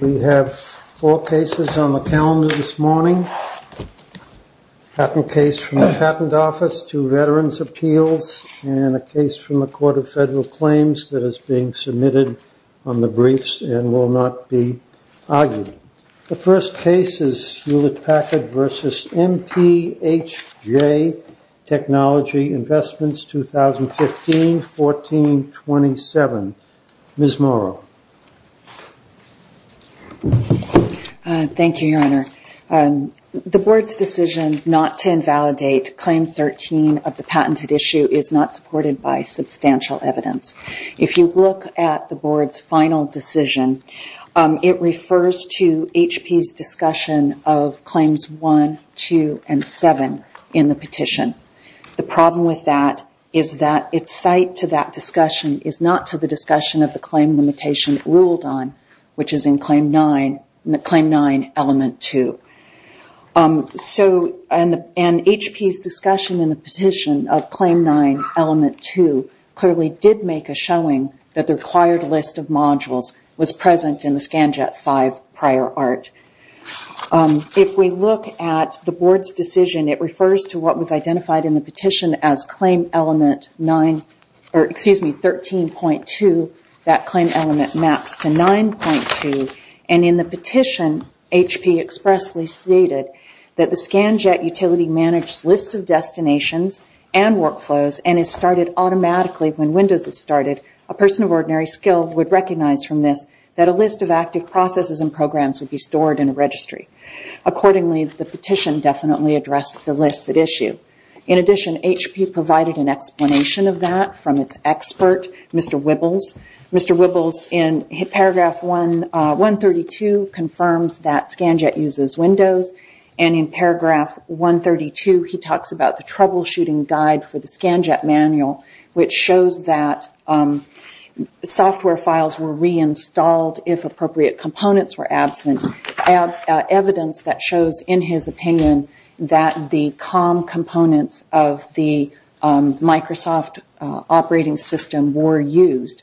We have four cases on the calendar this morning, a patent case from the Patent Office to Veterans Appeals and a case from the Court of Federal Claims that is being submitted on the briefs and will not be argued. The first case is Hewlett Packard v. MPHJ Technology Investments, 2015-14-27. Ms. Morrow. Thank you, Your Honor. The Board's decision not to invalidate Claim 13 of the patented issue is not supported by substantial evidence. If you look at the Board's final decision, it refers to HP's discussion of Claims 1, 2, and 7 in the petition. The problem with that is that its site to that discussion is not to the discussion of the claim limitation it ruled on, which is in Claim 9, Element 2. HP's discussion in the petition of Claim 9, Element 2, and the entire list of modules was present in the ScanJet 5 prior art. If we look at the Board's decision, it refers to what was identified in the petition as Claim Element 13.2. That Claim Element maps to 9.2. In the petition, HP expressly stated that the ScanJet utility managed lists of destinations and workflows and it started automatically when Windows was started. A person of ordinary skill would recognize from this that a list of active processes and programs would be stored in a registry. Accordingly, the petition definitely addressed the list at issue. In addition, HP provided an explanation of that from its expert, Mr. Wibbles. Mr. Wibbles, in Paragraph 132, confirms that ScanJet uses Windows. In Paragraph 132, he talks about the troubleshooting guide for which shows that software files were reinstalled if appropriate components were absent. Evidence that shows, in his opinion, that the COM components of the Microsoft operating system were used,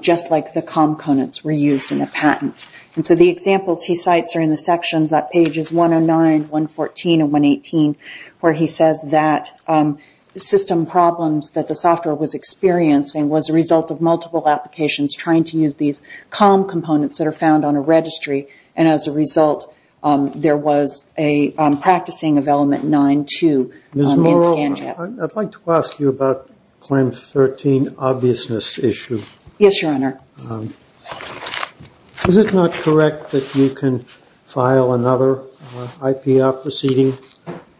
just like the COM components were used in a patent. The examples he cites are in the sections at pages 109, 114, and 118, where he says that system problems that the software was experiencing was a result of multiple applications trying to use these COM components that are found on a registry. As a result, there was a practicing of Element 9.2 in ScanJet. Ms. Moreau, I would like to ask you about Claim 13, Obviousness Issue. Yes, Your Honor. Is it not correct that you can file another IPR proceeding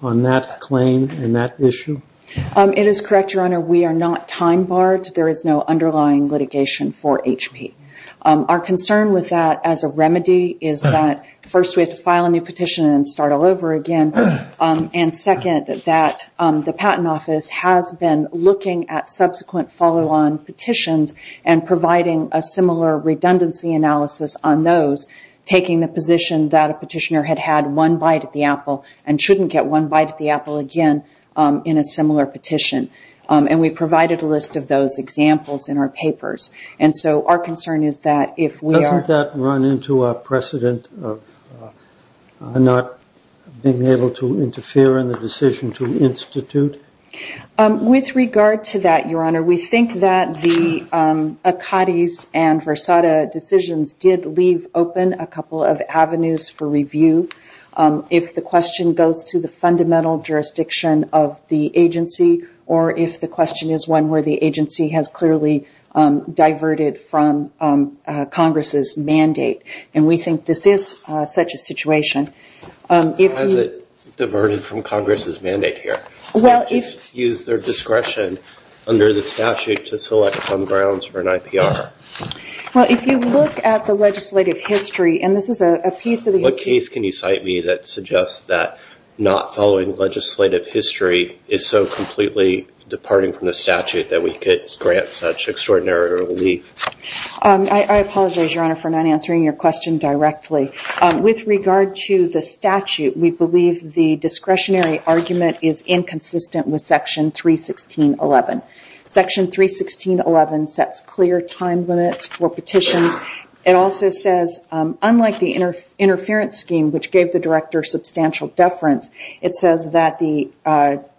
on that claim and that issue? It is correct, Your Honor. We are not time-barred. There is no underlying litigation for HP. Our concern with that, as a remedy, is that first we have to file a new petition and start all over again, and second, that the Patent Office has been looking at subsequent follow-on petitions and providing a similar redundancy analysis on those, taking the position that a petitioner had had one bite at the apple and shouldn't get one bite at the apple again in a similar petition. And we provided a list of those examples in our papers. And so our concern is that if we are— Doesn't that run into a precedent of not being able to interfere in the decision to institute? With regard to that, Your Honor, we think that the Akkadis and Versada decisions did leave open a couple of avenues for review. If the question goes to the fundamental jurisdiction of the agency or if the question is one where the agency has clearly diverted from Congress's mandate. And we think this is such a situation. Has it diverted from Congress's mandate here? Well, if— To just use their discretion under the statute to select some grounds for an IPR? Well, if you look at the legislative history, and this is a piece of the— What case can you cite me that suggests that not following legislative history is so completely departing from the statute that we could grant such extraordinary relief? I apologize, Your Honor, for not answering your question directly. With regard to the section 316.11. Section 316.11 sets clear time limits for petitions. It also says, unlike the interference scheme, which gave the director substantial deference, it says that the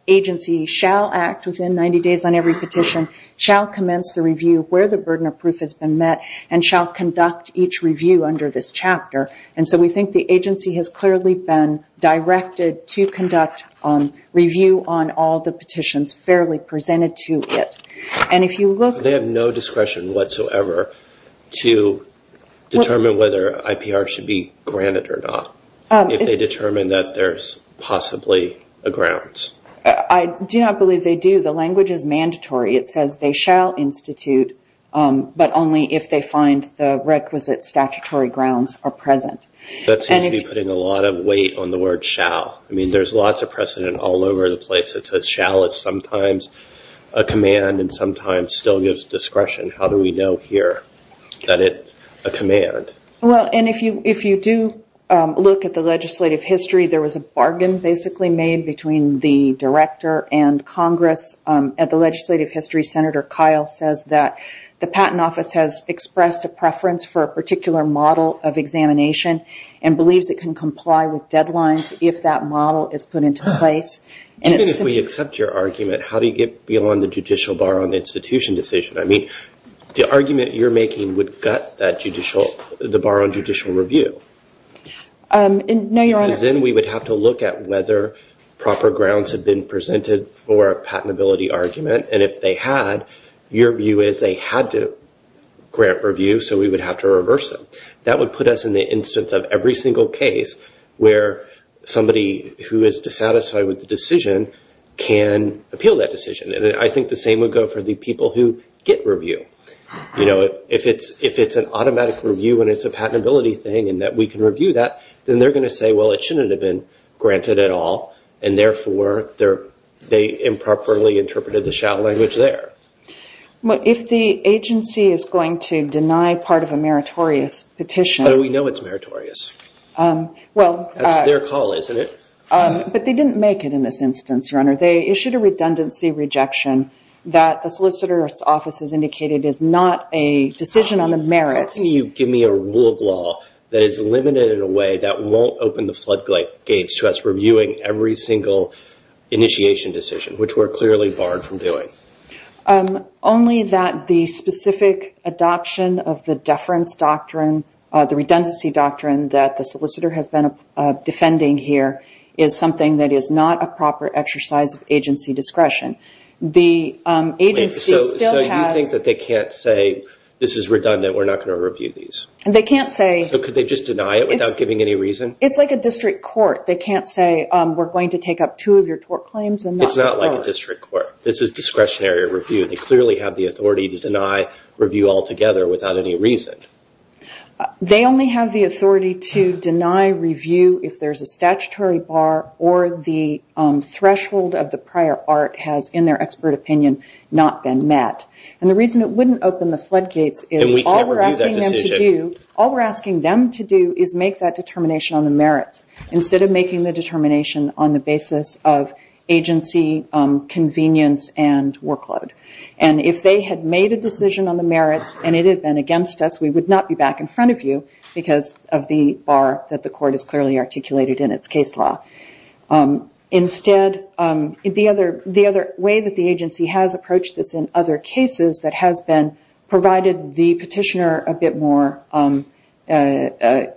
agency shall act within 90 days on every petition, shall commence the review where the burden of proof has been met, and shall conduct each review under this chapter. And so we think the agency has clearly been directed to conduct review on all the petitions fairly presented to it. And if you look— They have no discretion whatsoever to determine whether IPR should be granted or not, if they determine that there's possibly a grounds. I do not believe they do. The language is mandatory. It says they shall institute, but only if they find the requisite statutory grounds are present. That seems to be putting a lot of weight on the word shall. I mean, there's lots of precedent all over the place that says shall is sometimes a command and sometimes still gives discretion. How do we know here that it's a command? If you do look at the legislative history, there was a bargain basically made between the director and Congress. At the legislative history, Senator Kyle says that the Patent Office has expressed a preference for a particular model of examination and believes it can comply with deadlines if that model is put into place. Even if we accept your argument, how do you get beyond the judicial bar on the institution decision? I mean, the argument you're making would gut the bar on judicial review. No, Your Honor— Because then we would have to look at whether proper grounds have been presented for a patentability argument, and if they had, your view is they had to grant review, so we would have to reverse them. That would put us in the instance of every single case where somebody who is dissatisfied with the decision can appeal that decision. I think the same would go for the people who get review. If it's an automatic review and it's a patentability thing and that we can review that, then they're going to say, well, it shouldn't have been granted at all, and we should have granted the shall language there. If the agency is going to deny part of a meritorious petition— But we know it's meritorious. That's their call, isn't it? But they didn't make it in this instance, Your Honor. They issued a redundancy rejection that the Solicitor's Office has indicated is not a decision on the merits— How can you give me a rule of law that is limited in a way that won't open the floodgates to us reviewing every single initiation decision, which we're clearly barred from doing? Only that the specific adoption of the deference doctrine, the redundancy doctrine that the solicitor has been defending here, is something that is not a proper exercise of agency discretion. The agency still has— So you think that they can't say, this is redundant, we're not going to review these? They can't say— So could they just deny it without giving any reason? It's like a district court. They can't say, we're going to take up two of your tort claims and not— It's not like a district court. This is discretionary review. They clearly have the authority to deny review altogether without any reason. They only have the authority to deny review if there's a statutory bar or the threshold of the prior art has, in their expert opinion, not been met. And the reason it wouldn't open the floodgates is— And we can't review that decision. All we're asking them to do is make that determination on the merits instead of making the determination on the basis of agency convenience and workload. And if they had made a decision on the merits and it had been against us, we would not be back in front of you because of the bar that the court has clearly articulated in its case law. Instead, the other way that the agency has approached this in other cases that has provided the petitioner a bit more ability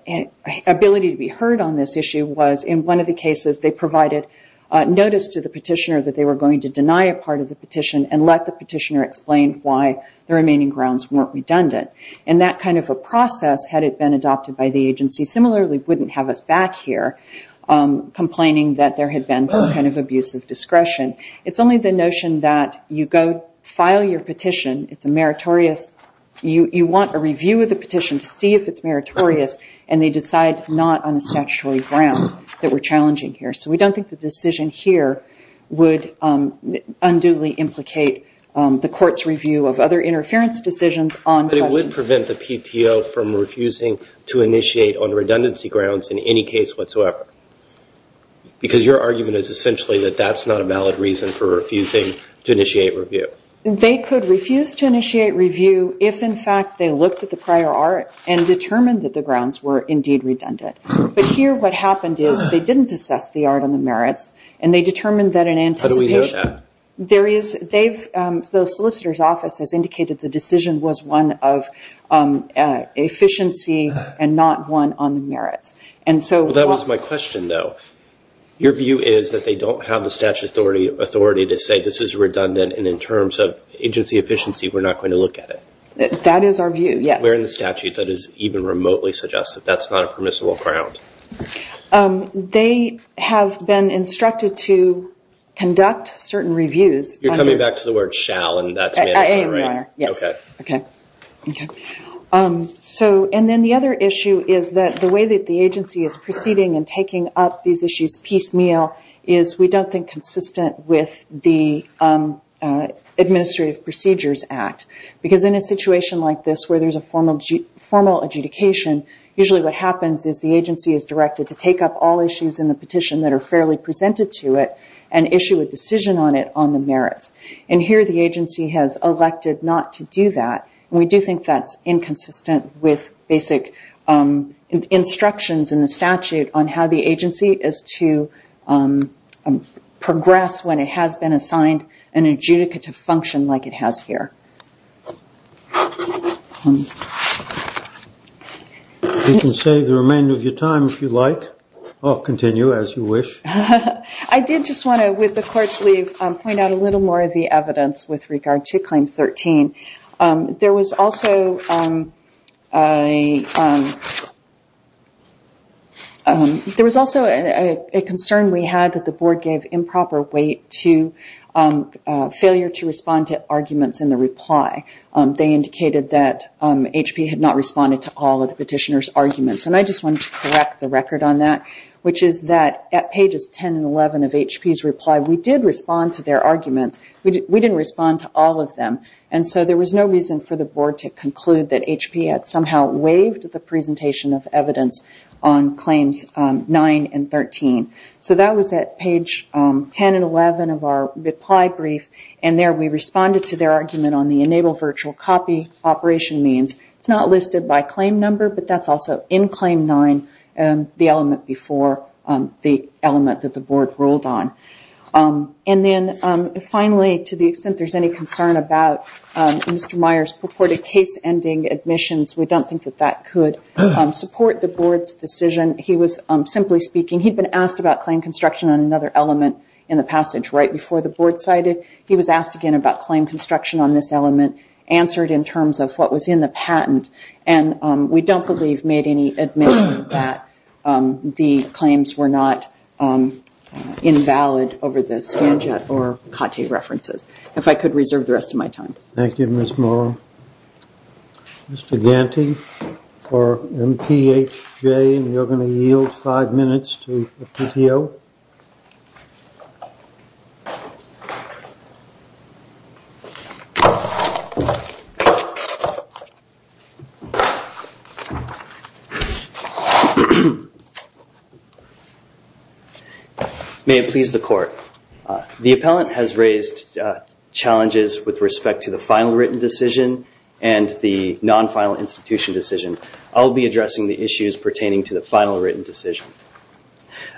to be heard on this issue was, in one of the cases, they provided notice to the petitioner that they were going to deny a part of the petition and let the petitioner explain why the remaining grounds weren't redundant. And that kind of a process, had it been adopted by the agency, similarly wouldn't have us back here complaining that there had been some kind of abusive discretion. It's only the notion that you go file your petition, it's a meritorious—you want a review of the petition to see if it's meritorious, and they decide not on a statutory ground that we're challenging here. So we don't think the decision here would unduly implicate the court's review of other interference decisions on— But it would prevent the PTO from refusing to initiate on redundancy grounds in any case whatsoever. Because your argument is essentially that that's not a valid reason for refusing to initiate review. They could refuse to initiate review if, in fact, they looked at the prior art and determined that the grounds were indeed redundant. But here what happened is they didn't assess the art on the merits, and they determined that in anticipation— How do we know that? The solicitor's office has indicated the decision was one of efficiency and not one on the merits. That was my question, though. Your view is that they don't have the statutory authority to say this is redundant, and in terms of agency efficiency, we're not going to look at it? That is our view, yes. Where in the statute does it even remotely suggest that that's not a permissible ground? They have been instructed to conduct certain reviews— You're coming back to the word shall, and that's mandatory, right? Yes. Okay. And then the other issue is that the way that the agency is proceeding and taking up these issues piecemeal is we don't think consistent with the Administrative Procedures Act. Because in a situation like this where there's a formal adjudication, usually what happens is the agency is directed to take up all issues in the petition that are fairly presented to it and issue a decision on it on the merits. And here the agency has elected not to do that, and we do think that's inconsistent with basic instructions in the statute on how the agency is to progress when it has been assigned an adjudicative function like it has here. You can save the remainder of your time if you like. I'll continue as you wish. I did just want to, with the Court's leave, point out a little more of the evidence with regard to Claim 13. There was also a concern we had that the Board gave improper weight to failure to respond to arguments in the reply. They indicated that HP had not responded to all of the petitioner's arguments. And I just wanted to correct the record on that, which is that at pages 10 and 11 of HP's reply, we did respond to their arguments. We didn't respond to all of them, and so there was no reason for the Board to conclude that HP had somehow waived the presentation of evidence on Claims 9 and 13. So that was at page 10 and 11 of our reply brief, and there we responded to their argument on the enable virtual copy operation means. It's not listed by claim number, but that's also in Claim 9, the element before the element that the Board ruled on. And then finally, to the extent there's any concern about Mr. Myers' purported case-ending admissions, we don't think that that could support the Board's decision. He was, simply speaking, he'd been asked about claim construction on another element in the passage right before the Board cited. He was asked again about claim construction on this element, answered in terms of what was in the patent, and we don't believe made any admission that the claims were not invalid over the Spanjet or Cotte references. If I could reserve the rest of my time. Thank you, Ms. Morrow. Mr. Ganti for MPHJ, and you're going to yield five minutes to the PTO. May it please the Court. The appellant has raised challenges with respect to the final written decision and the non-final institution decision. I'll be addressing the issues pertaining to the final written decision.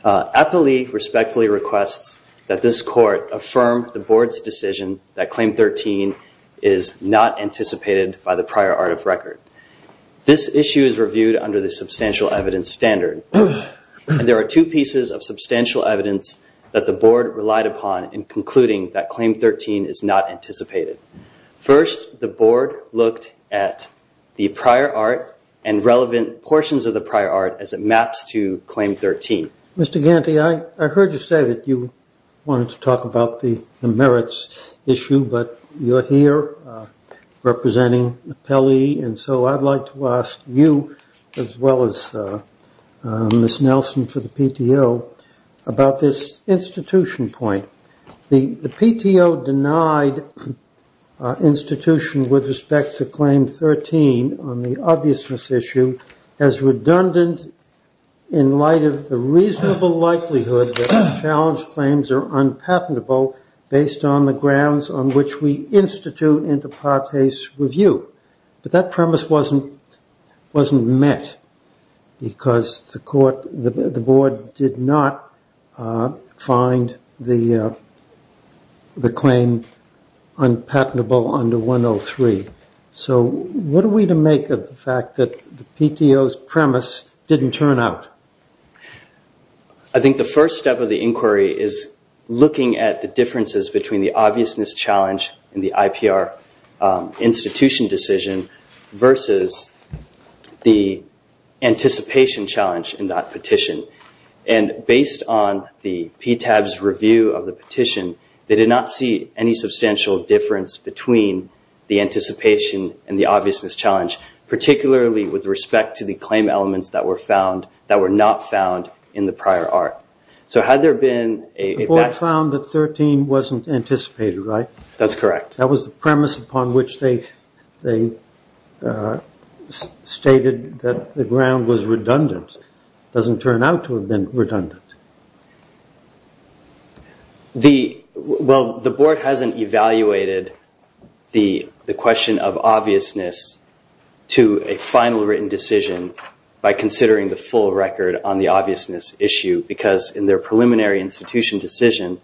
Appley respectfully requests that this Court affirm the Board's decision that Claim 13 is not anticipated by the prior art of record. This issue is reviewed under the substantial evidence standard. There are two pieces of substantial evidence that the Board relied upon in concluding that Claim 13 is not anticipated. First, the Board looked at the prior art and relevant portions of the prior art as it maps to Claim 13. Mr. Ganti, I heard you say that you wanted to talk about the merits issue, but you're here representing the appellee, and so I'd like to ask you as well as Ms. Nelson for the PTO about this institution point. The PTO denied institution with respect to Claim 13 on the likelihood that the challenge claims are unpatentable based on the grounds on which we institute into Part A's review, but that premise wasn't met because the Board did not find the claim unpatentable under 103. What are we to make of the fact that the PTO's premise didn't turn out? I think the first step of the inquiry is looking at the differences between the obviousness challenge in the IPR institution decision versus the anticipation challenge in that petition, and based on the PTAB's review of the petition, they did not see any substantial difference between the anticipation and the obviousness challenge, particularly with respect to the claim elements that were not found in the prior art. The Board found that 13 wasn't anticipated, right? That's correct. That was the premise upon which they stated that the ground was redundant. It doesn't turn out to have been redundant. The Board hasn't evaluated the question of obviousness to a final written decision by considering the full record on the obviousness issue because in their preliminary institution decision,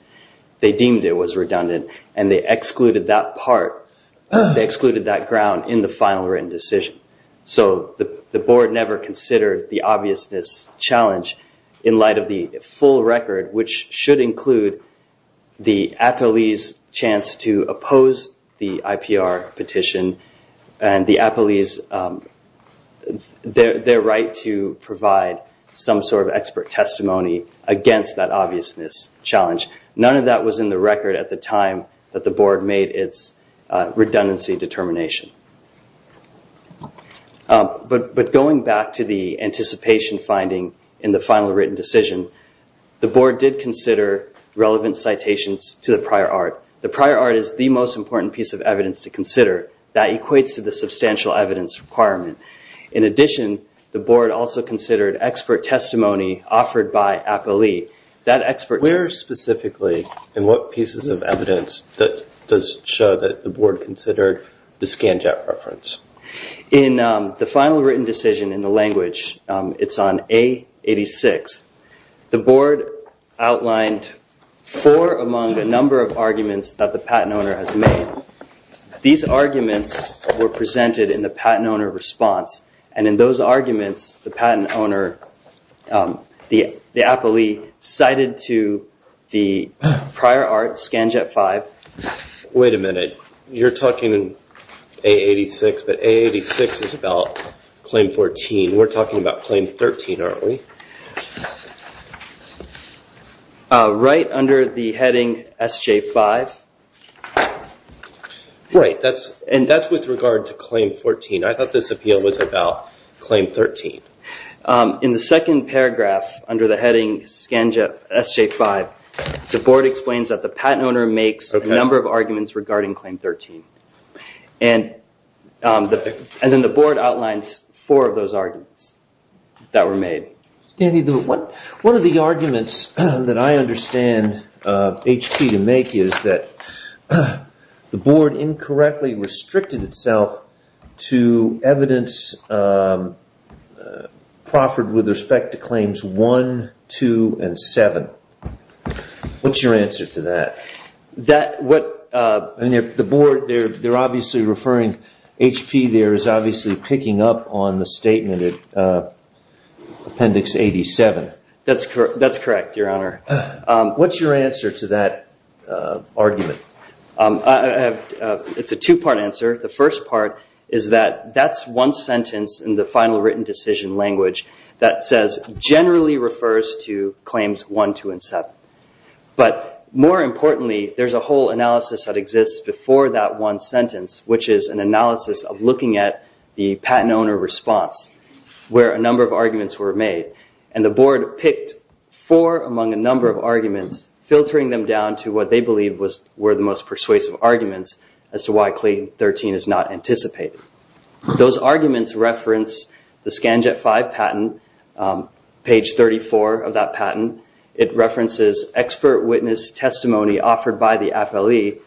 they deemed it was redundant and they excluded that part. They excluded that ground in the final written decision. So the Board never considered the obviousness challenge in light of the full record, which should include the appellee's right to provide some sort of expert testimony against that obviousness challenge. None of that was in the record at the time that the Board made its redundancy determination. But going back to the anticipation finding in the final written decision, the Board did consider relevant citations to the prior art. The prior art is the most important piece of evidence to the substantial evidence requirement. In addition, the Board also considered expert testimony offered by appellee. Where specifically and what pieces of evidence does show that the Board considered the scanjet reference? In the final written decision in the language, it's on A86, the Board outlined four among a number of arguments that the patent owner has made. These arguments were presented in the patent owner response. And in those arguments, the patent owner, the appellee, cited to the prior art, scanjet 5. Wait a minute. You're talking in A86, but A86 is about claim 14. We're talking about claim 13, aren't we? Right under the heading SJ5. Right. That's with regard to claim 14. I thought this appeal was about claim 13. In the second paragraph under the heading scanjet SJ5, the Board explains that the patent owner makes a number of arguments regarding claim 13. And then the Board outlines four of those arguments that were made. One of the arguments that I understand HP to make is that the Board incorrectly restricted itself to evidence proffered with respect to claims 1, 2, and 7. What's your answer to that? The Board, they're obviously referring, HP there is obviously picking up on the statement at Appendix 87. That's correct, Your Honor. What's your answer to that argument? It's a two-part answer. The first part is that that's one sentence in the final written decision language that says, generally refers to claims 1, 2, and 7. But more importantly, there's a whole analysis that exists before that one sentence, which is an patent owner response, where a number of arguments were made. And the Board picked four among a number of arguments, filtering them down to what they believe were the most persuasive arguments as to why claim 13 is not anticipated. Those arguments reference the Scanjet 5 patent, page 34 of that patent. It references expert witness testimony offered by the appellee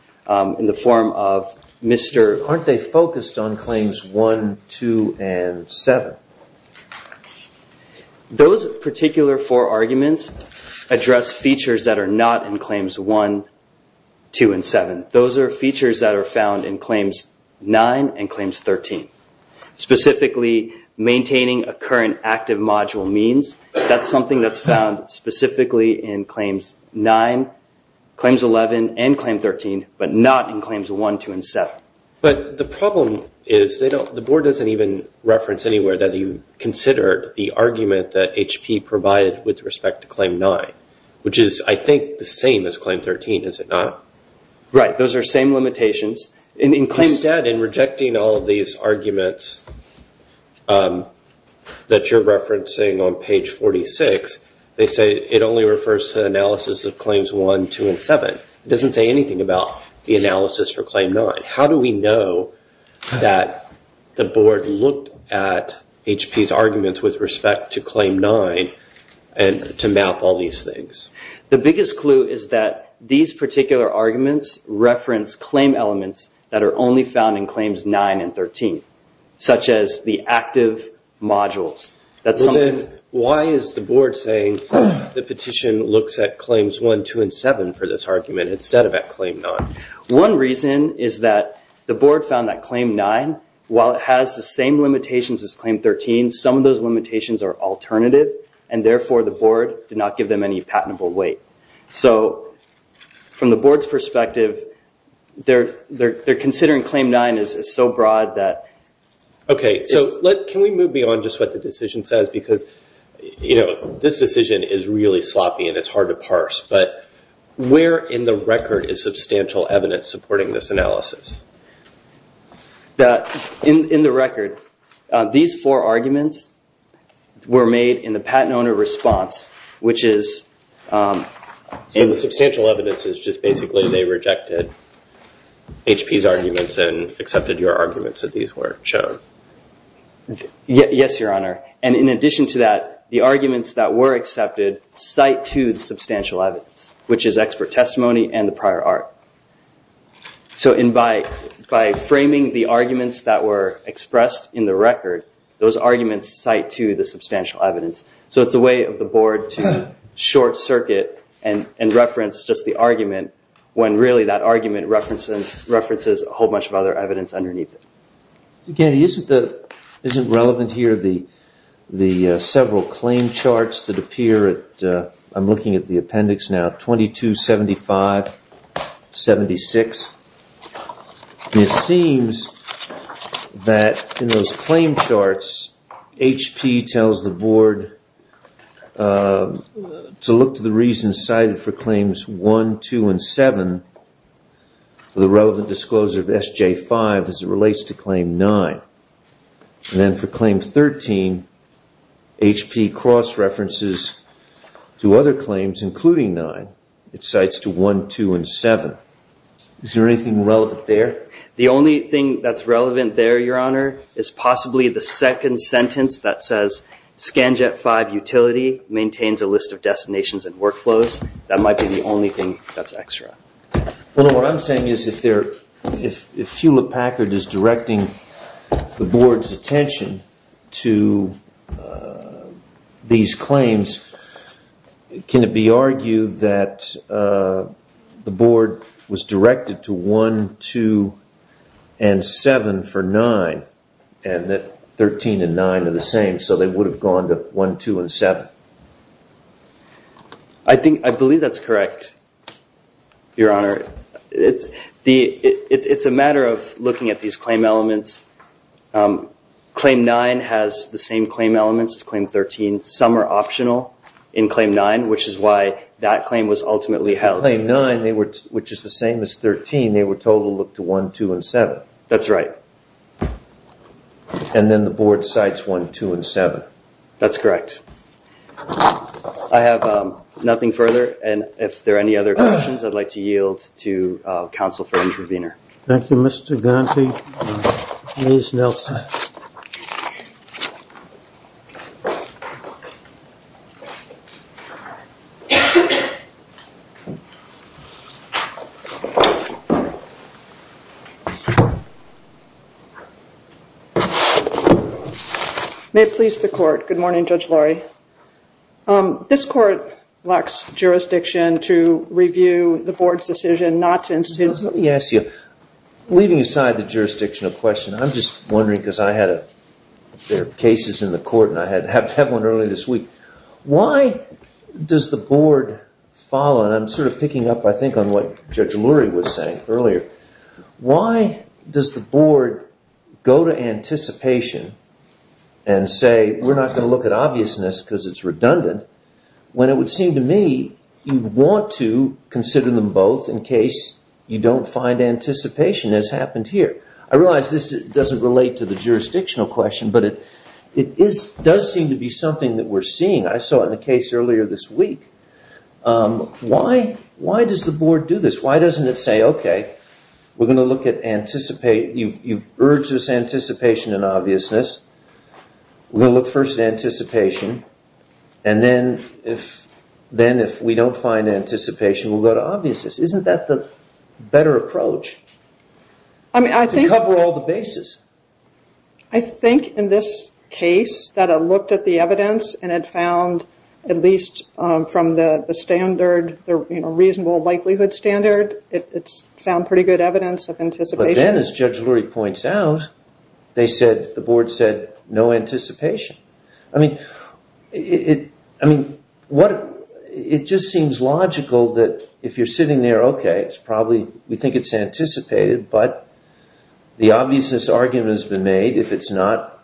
in the form of Mr. Aren't they focused on claims 1, 2, and 7? Those particular four arguments address features that are not in claims 1, 2, and 7. Those are features that are found in claims 9 and claims 13. Specifically, maintaining a current active module means, that's something that's found specifically in claims 9, claims 11, and claim 13, but not in claims 1, 2, and 7. But the problem is, the Board doesn't even reference anywhere that you considered the argument that HP provided with respect to claim 9, which is, I think, the same as claim 13, is it not? Right. Those are same limitations. Instead, in rejecting all of these arguments that you're referencing on page 46, they say it only refers to analysis of claims 1, 2, and 7. It doesn't say anything about the analysis for claim 9. How do we know that the Board looked at HP's arguments with respect to claim 9 and to map all these things? The biggest clue is that these particular arguments reference claim elements that are only found in claims 9 and 13, such as the active modules. Why is the Board saying the petition looks at claims 1, 2, and 7 for this argument, instead of at claim 9? One reason is that the Board found that claim 9, while it has the same limitations as claim 13, some of those limitations are alternative, and therefore, the Board did not give them any patentable weight. From the Board's perspective, they're considering claim 9 as so broad that... Okay. Can we move beyond just what the decision says? This decision is really sloppy, and it's hard to parse, but where in the record is substantial evidence supporting this analysis? In the record, these four arguments were made in the patent owner response, which is... So the substantial evidence is just basically they rejected HP's arguments and accepted your arguments that these were shown? Yes, Your Honor. In addition to that, the arguments that were accepted cite to the substantial evidence, which is expert testimony and the prior art. And by framing the arguments that were expressed in the record, those arguments cite to the substantial evidence. So it's a way of the Board to short circuit and reference just the argument when really that argument references a whole bunch of other evidence underneath it. Again, isn't relevant here the several claim charts that appear at... 76. It seems that in those claim charts, HP tells the Board to look to the reasons cited for claims 1, 2, and 7, the relevant disclosure of SJ5 as it relates to claim 9. And then for claim 13, HP cross-references to other claims, including 9. It cites to 1, 2, and 7. Is there anything relevant there? The only thing that's relevant there, Your Honor, is possibly the second sentence that says, SJ5 utility maintains a list of destinations and workflows. That might be the only thing that's extra. Well, what I'm saying is if they're... If Hewlett-Packard is directing the Board's attention to these claims, can it be argued that the Board was directed to 1, 2, and 7 for 9, and that 13 and 9 are the same, so they would have gone to 1, 2, and 7? I think... I believe that's correct, Your Honor. It's a matter of looking at these claim elements. Claim 9 has the same claim elements as claim 13. Some are optional in claim 9, which is why that claim was ultimately held. For claim 9, which is the same as 13, they were told to look to 1, 2, and 7. That's right. And then the Board cites 1, 2, and 7. That's correct. I have nothing further, and if there are any other questions, I'd like to yield to counsel for intervener. Thank you, Mr. Ganti. Ms. Nelson. May it please the Court. Good morning, Judge Laurie. This Court lacks jurisdiction to review the Board's decision not to institute... Yes, yes. Leaving aside the jurisdictional question, I'm just wondering, because I had a... There are cases in the Court, and I had one earlier this week. Why does the Board follow, and I'm sort of picking up, I think, on what Judge Laurie was saying earlier. Why does the Board go to anticipation and say, we're not going to look at obviousness because it's redundant, when it would seem to me you'd want to consider them both in case you don't find anticipation, as happened here. I realize this doesn't relate to the jurisdictional question, but it does seem to be something that we're seeing. I saw it in the case earlier this week. Why does the Board do this? Why doesn't it say, okay, we're going to look at... You've urged us anticipation and obviousness. We'll look first at anticipation, and then if we don't find anticipation, we'll go to obviousness. Isn't that the better approach to cover all the bases? I think in this case that I looked at the evidence and had found, at least from the reasonable likelihood standard, it's found pretty good evidence of anticipation. But then, as Judge Laurie points out, the Board said, no anticipation. I mean, it just seems logical that if you're sitting there, okay, we think it's anticipated, but the obviousness argument has been made. If it's not,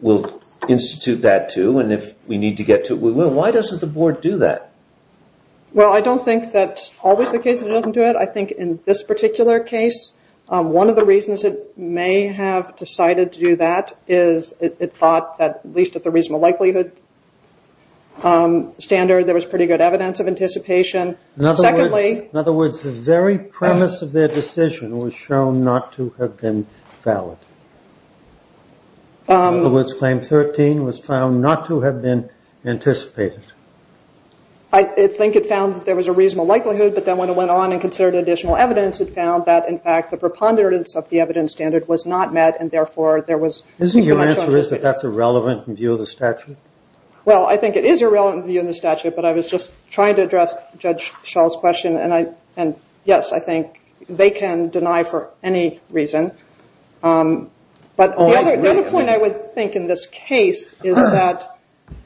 we'll institute that too, and if we need to get to it, we will. Why doesn't the Board do that? Well, I don't think that's always the case that it doesn't do it. I think in this particular case, one of the reasons it may have decided to do that is it thought that, at least at the reasonable likelihood standard, there was pretty good evidence of anticipation. In other words, the very premise of their decision was shown not to have been valid. In other words, Claim 13 was found not to have been anticipated. I think it found that there was a reasonable likelihood, but then when it went on and evidence, it found that, in fact, the preponderance of the evidence standard was not met, and therefore, there was... Isn't your answer is that that's irrelevant in view of the statute? Well, I think it is irrelevant in view of the statute, but I was just trying to address Judge Schall's question, and yes, I think they can deny for any reason. But the other point I would think in this case is that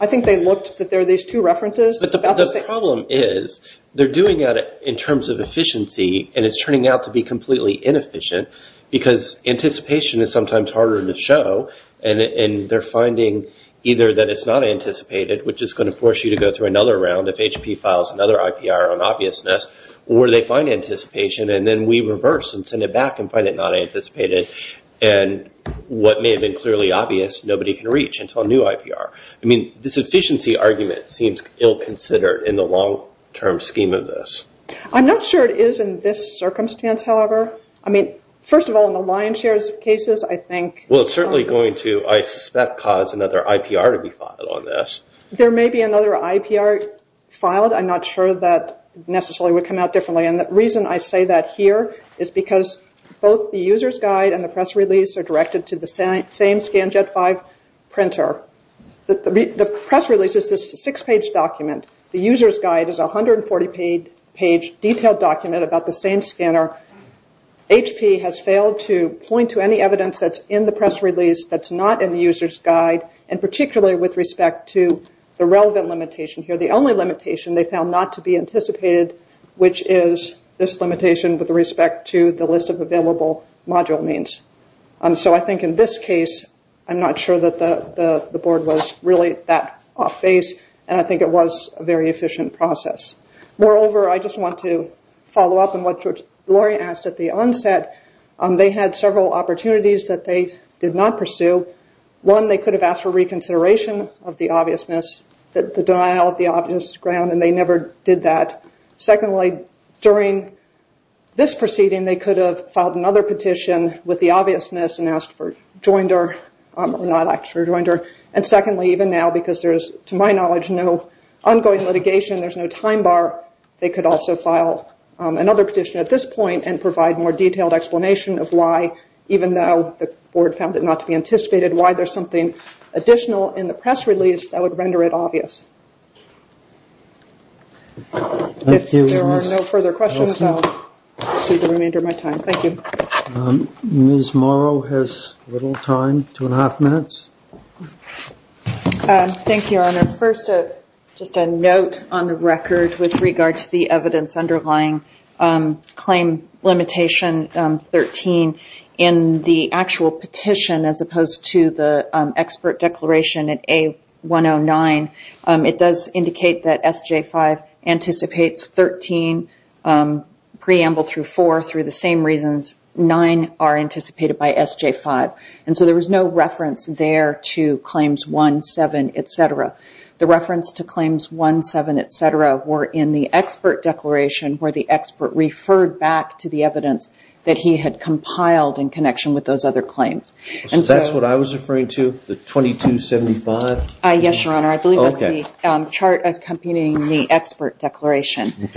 I think they looked that there are these two references... The problem is they're doing that in terms of efficiency, and it's turning out to be completely inefficient because anticipation is sometimes harder to show, and they're finding either that it's not anticipated, which is going to force you to go through another round if HP files another IPR on obviousness, or they find anticipation, and then we reverse and send it back and find it not anticipated. What may have been clearly obvious, nobody can reach until a new IPR. This efficiency argument seems ill-considered in the long-term scheme of this. I'm not sure it is in this circumstance, however. First of all, in the lion's share of cases, I think... Well, it's certainly going to, I suspect, cause another IPR to be filed on this. There may be another IPR filed. I'm not sure that necessarily would come out differently, and the reason I say that here is because both the user's guide and the press release are directed to the same Scanjet 5 printer. The press release is this six-page document. The user's guide is a 140-page detailed document about the same scanner. HP has failed to point to any evidence that's in the press release that's not in the user's guide, and particularly with respect to the relevant limitation here. The only limitation they found not to be anticipated, which is this limitation with respect to the list of available module means. So I think in this case, I'm not sure that the board was really that off-base, and I think it was a very efficient process. Moreover, I just want to follow up on what Lori asked at the onset. They had several opportunities that they did not pursue. One, they could have asked for reconsideration of the obviousness, the denial of the obvious ground, and they never did that. Secondly, during this proceeding, they could have filed another petition with the obviousness and asked for joinder, or not actually joinder. And secondly, even now, because there's, to my knowledge, no ongoing litigation, there's no time bar, they could also file another petition at this point and provide more detailed explanation of why, even though the board found it not to be anticipated, why there's no further questions. Ms. Morrow has a little time, two and a half minutes. Thank you, Your Honor. First, just a note on the record with regard to the evidence underlying claim limitation 13 in the actual petition as opposed to the expert declaration at A109. It does indicate that SJ-5 anticipates 13 preamble through four through the same reasons. Nine are anticipated by SJ-5. And so there was no reference there to claims one, seven, et cetera. The reference to claims one, seven, et cetera, were in the expert declaration where the expert referred back to the evidence that he had compiled in connection with those other claims. That's what I was referring to, the 2275? Yes, Your Honor. I believe that's the chart accompanying the expert declaration.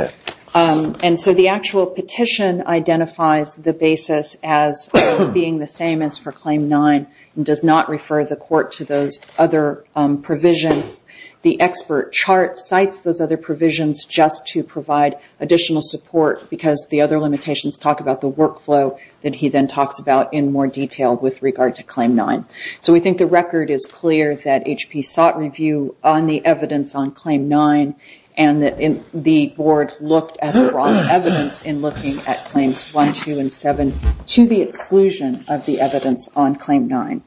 And so the actual petition identifies the basis as being the same as for claim nine and does not refer the court to those other provisions. The expert chart cites those other provisions just to provide additional support because the other limitations talk about the workflow that he then talks about in more detail with regard to claim nine. So we think the record is clear that HP sought review on the evidence on claim nine and the board looked at the wrong evidence in looking at claims one, two, and seven to the exclusion of the evidence on claim nine.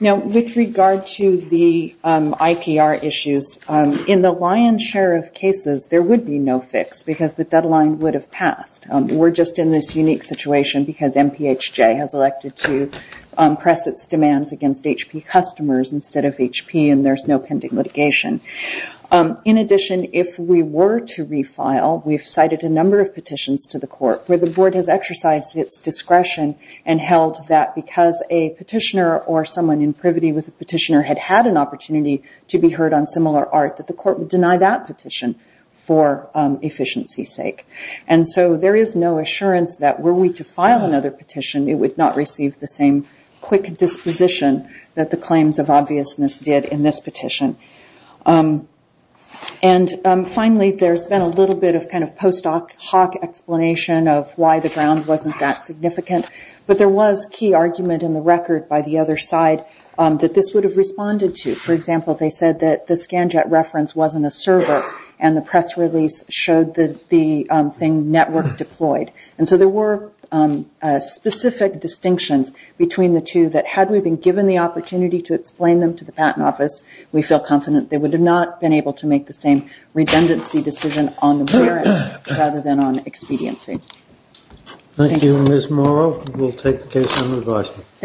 Now, with regard to the IPR issues, in the lion's share of cases, there would be no fix because the deadline would have passed. We're just in this unique situation because MPHJ has elected to press its demands against HP customers instead of HP and there's no pending litigation. In addition, if we were to refile, we've cited a number of petitions to the court where the board has exercised its discretion and held that because a petitioner or someone in privity with a petitioner had had an opportunity to be heard on similar art that the court would deny that petition for efficiency's sake. And so there is no assurance that were we to file another petition, it would not receive the same quick disposition that the claims of obviousness did in this petition. And finally, there's been a little bit of kind of post hoc explanation of why the ground wasn't that significant, but there was key argument in the record by the other side that this would have responded to. For example, they said that the Scanjet reference wasn't a server and the press release showed the thing network deployed. And so there were specific distinctions between the two that had we been given the opportunity to explain them to the patent office, we feel confident they would have not been able to make the same redundancy decision on the warrants rather than on expediency. Thank you, Ms. Morrow. We'll take the case on revisement.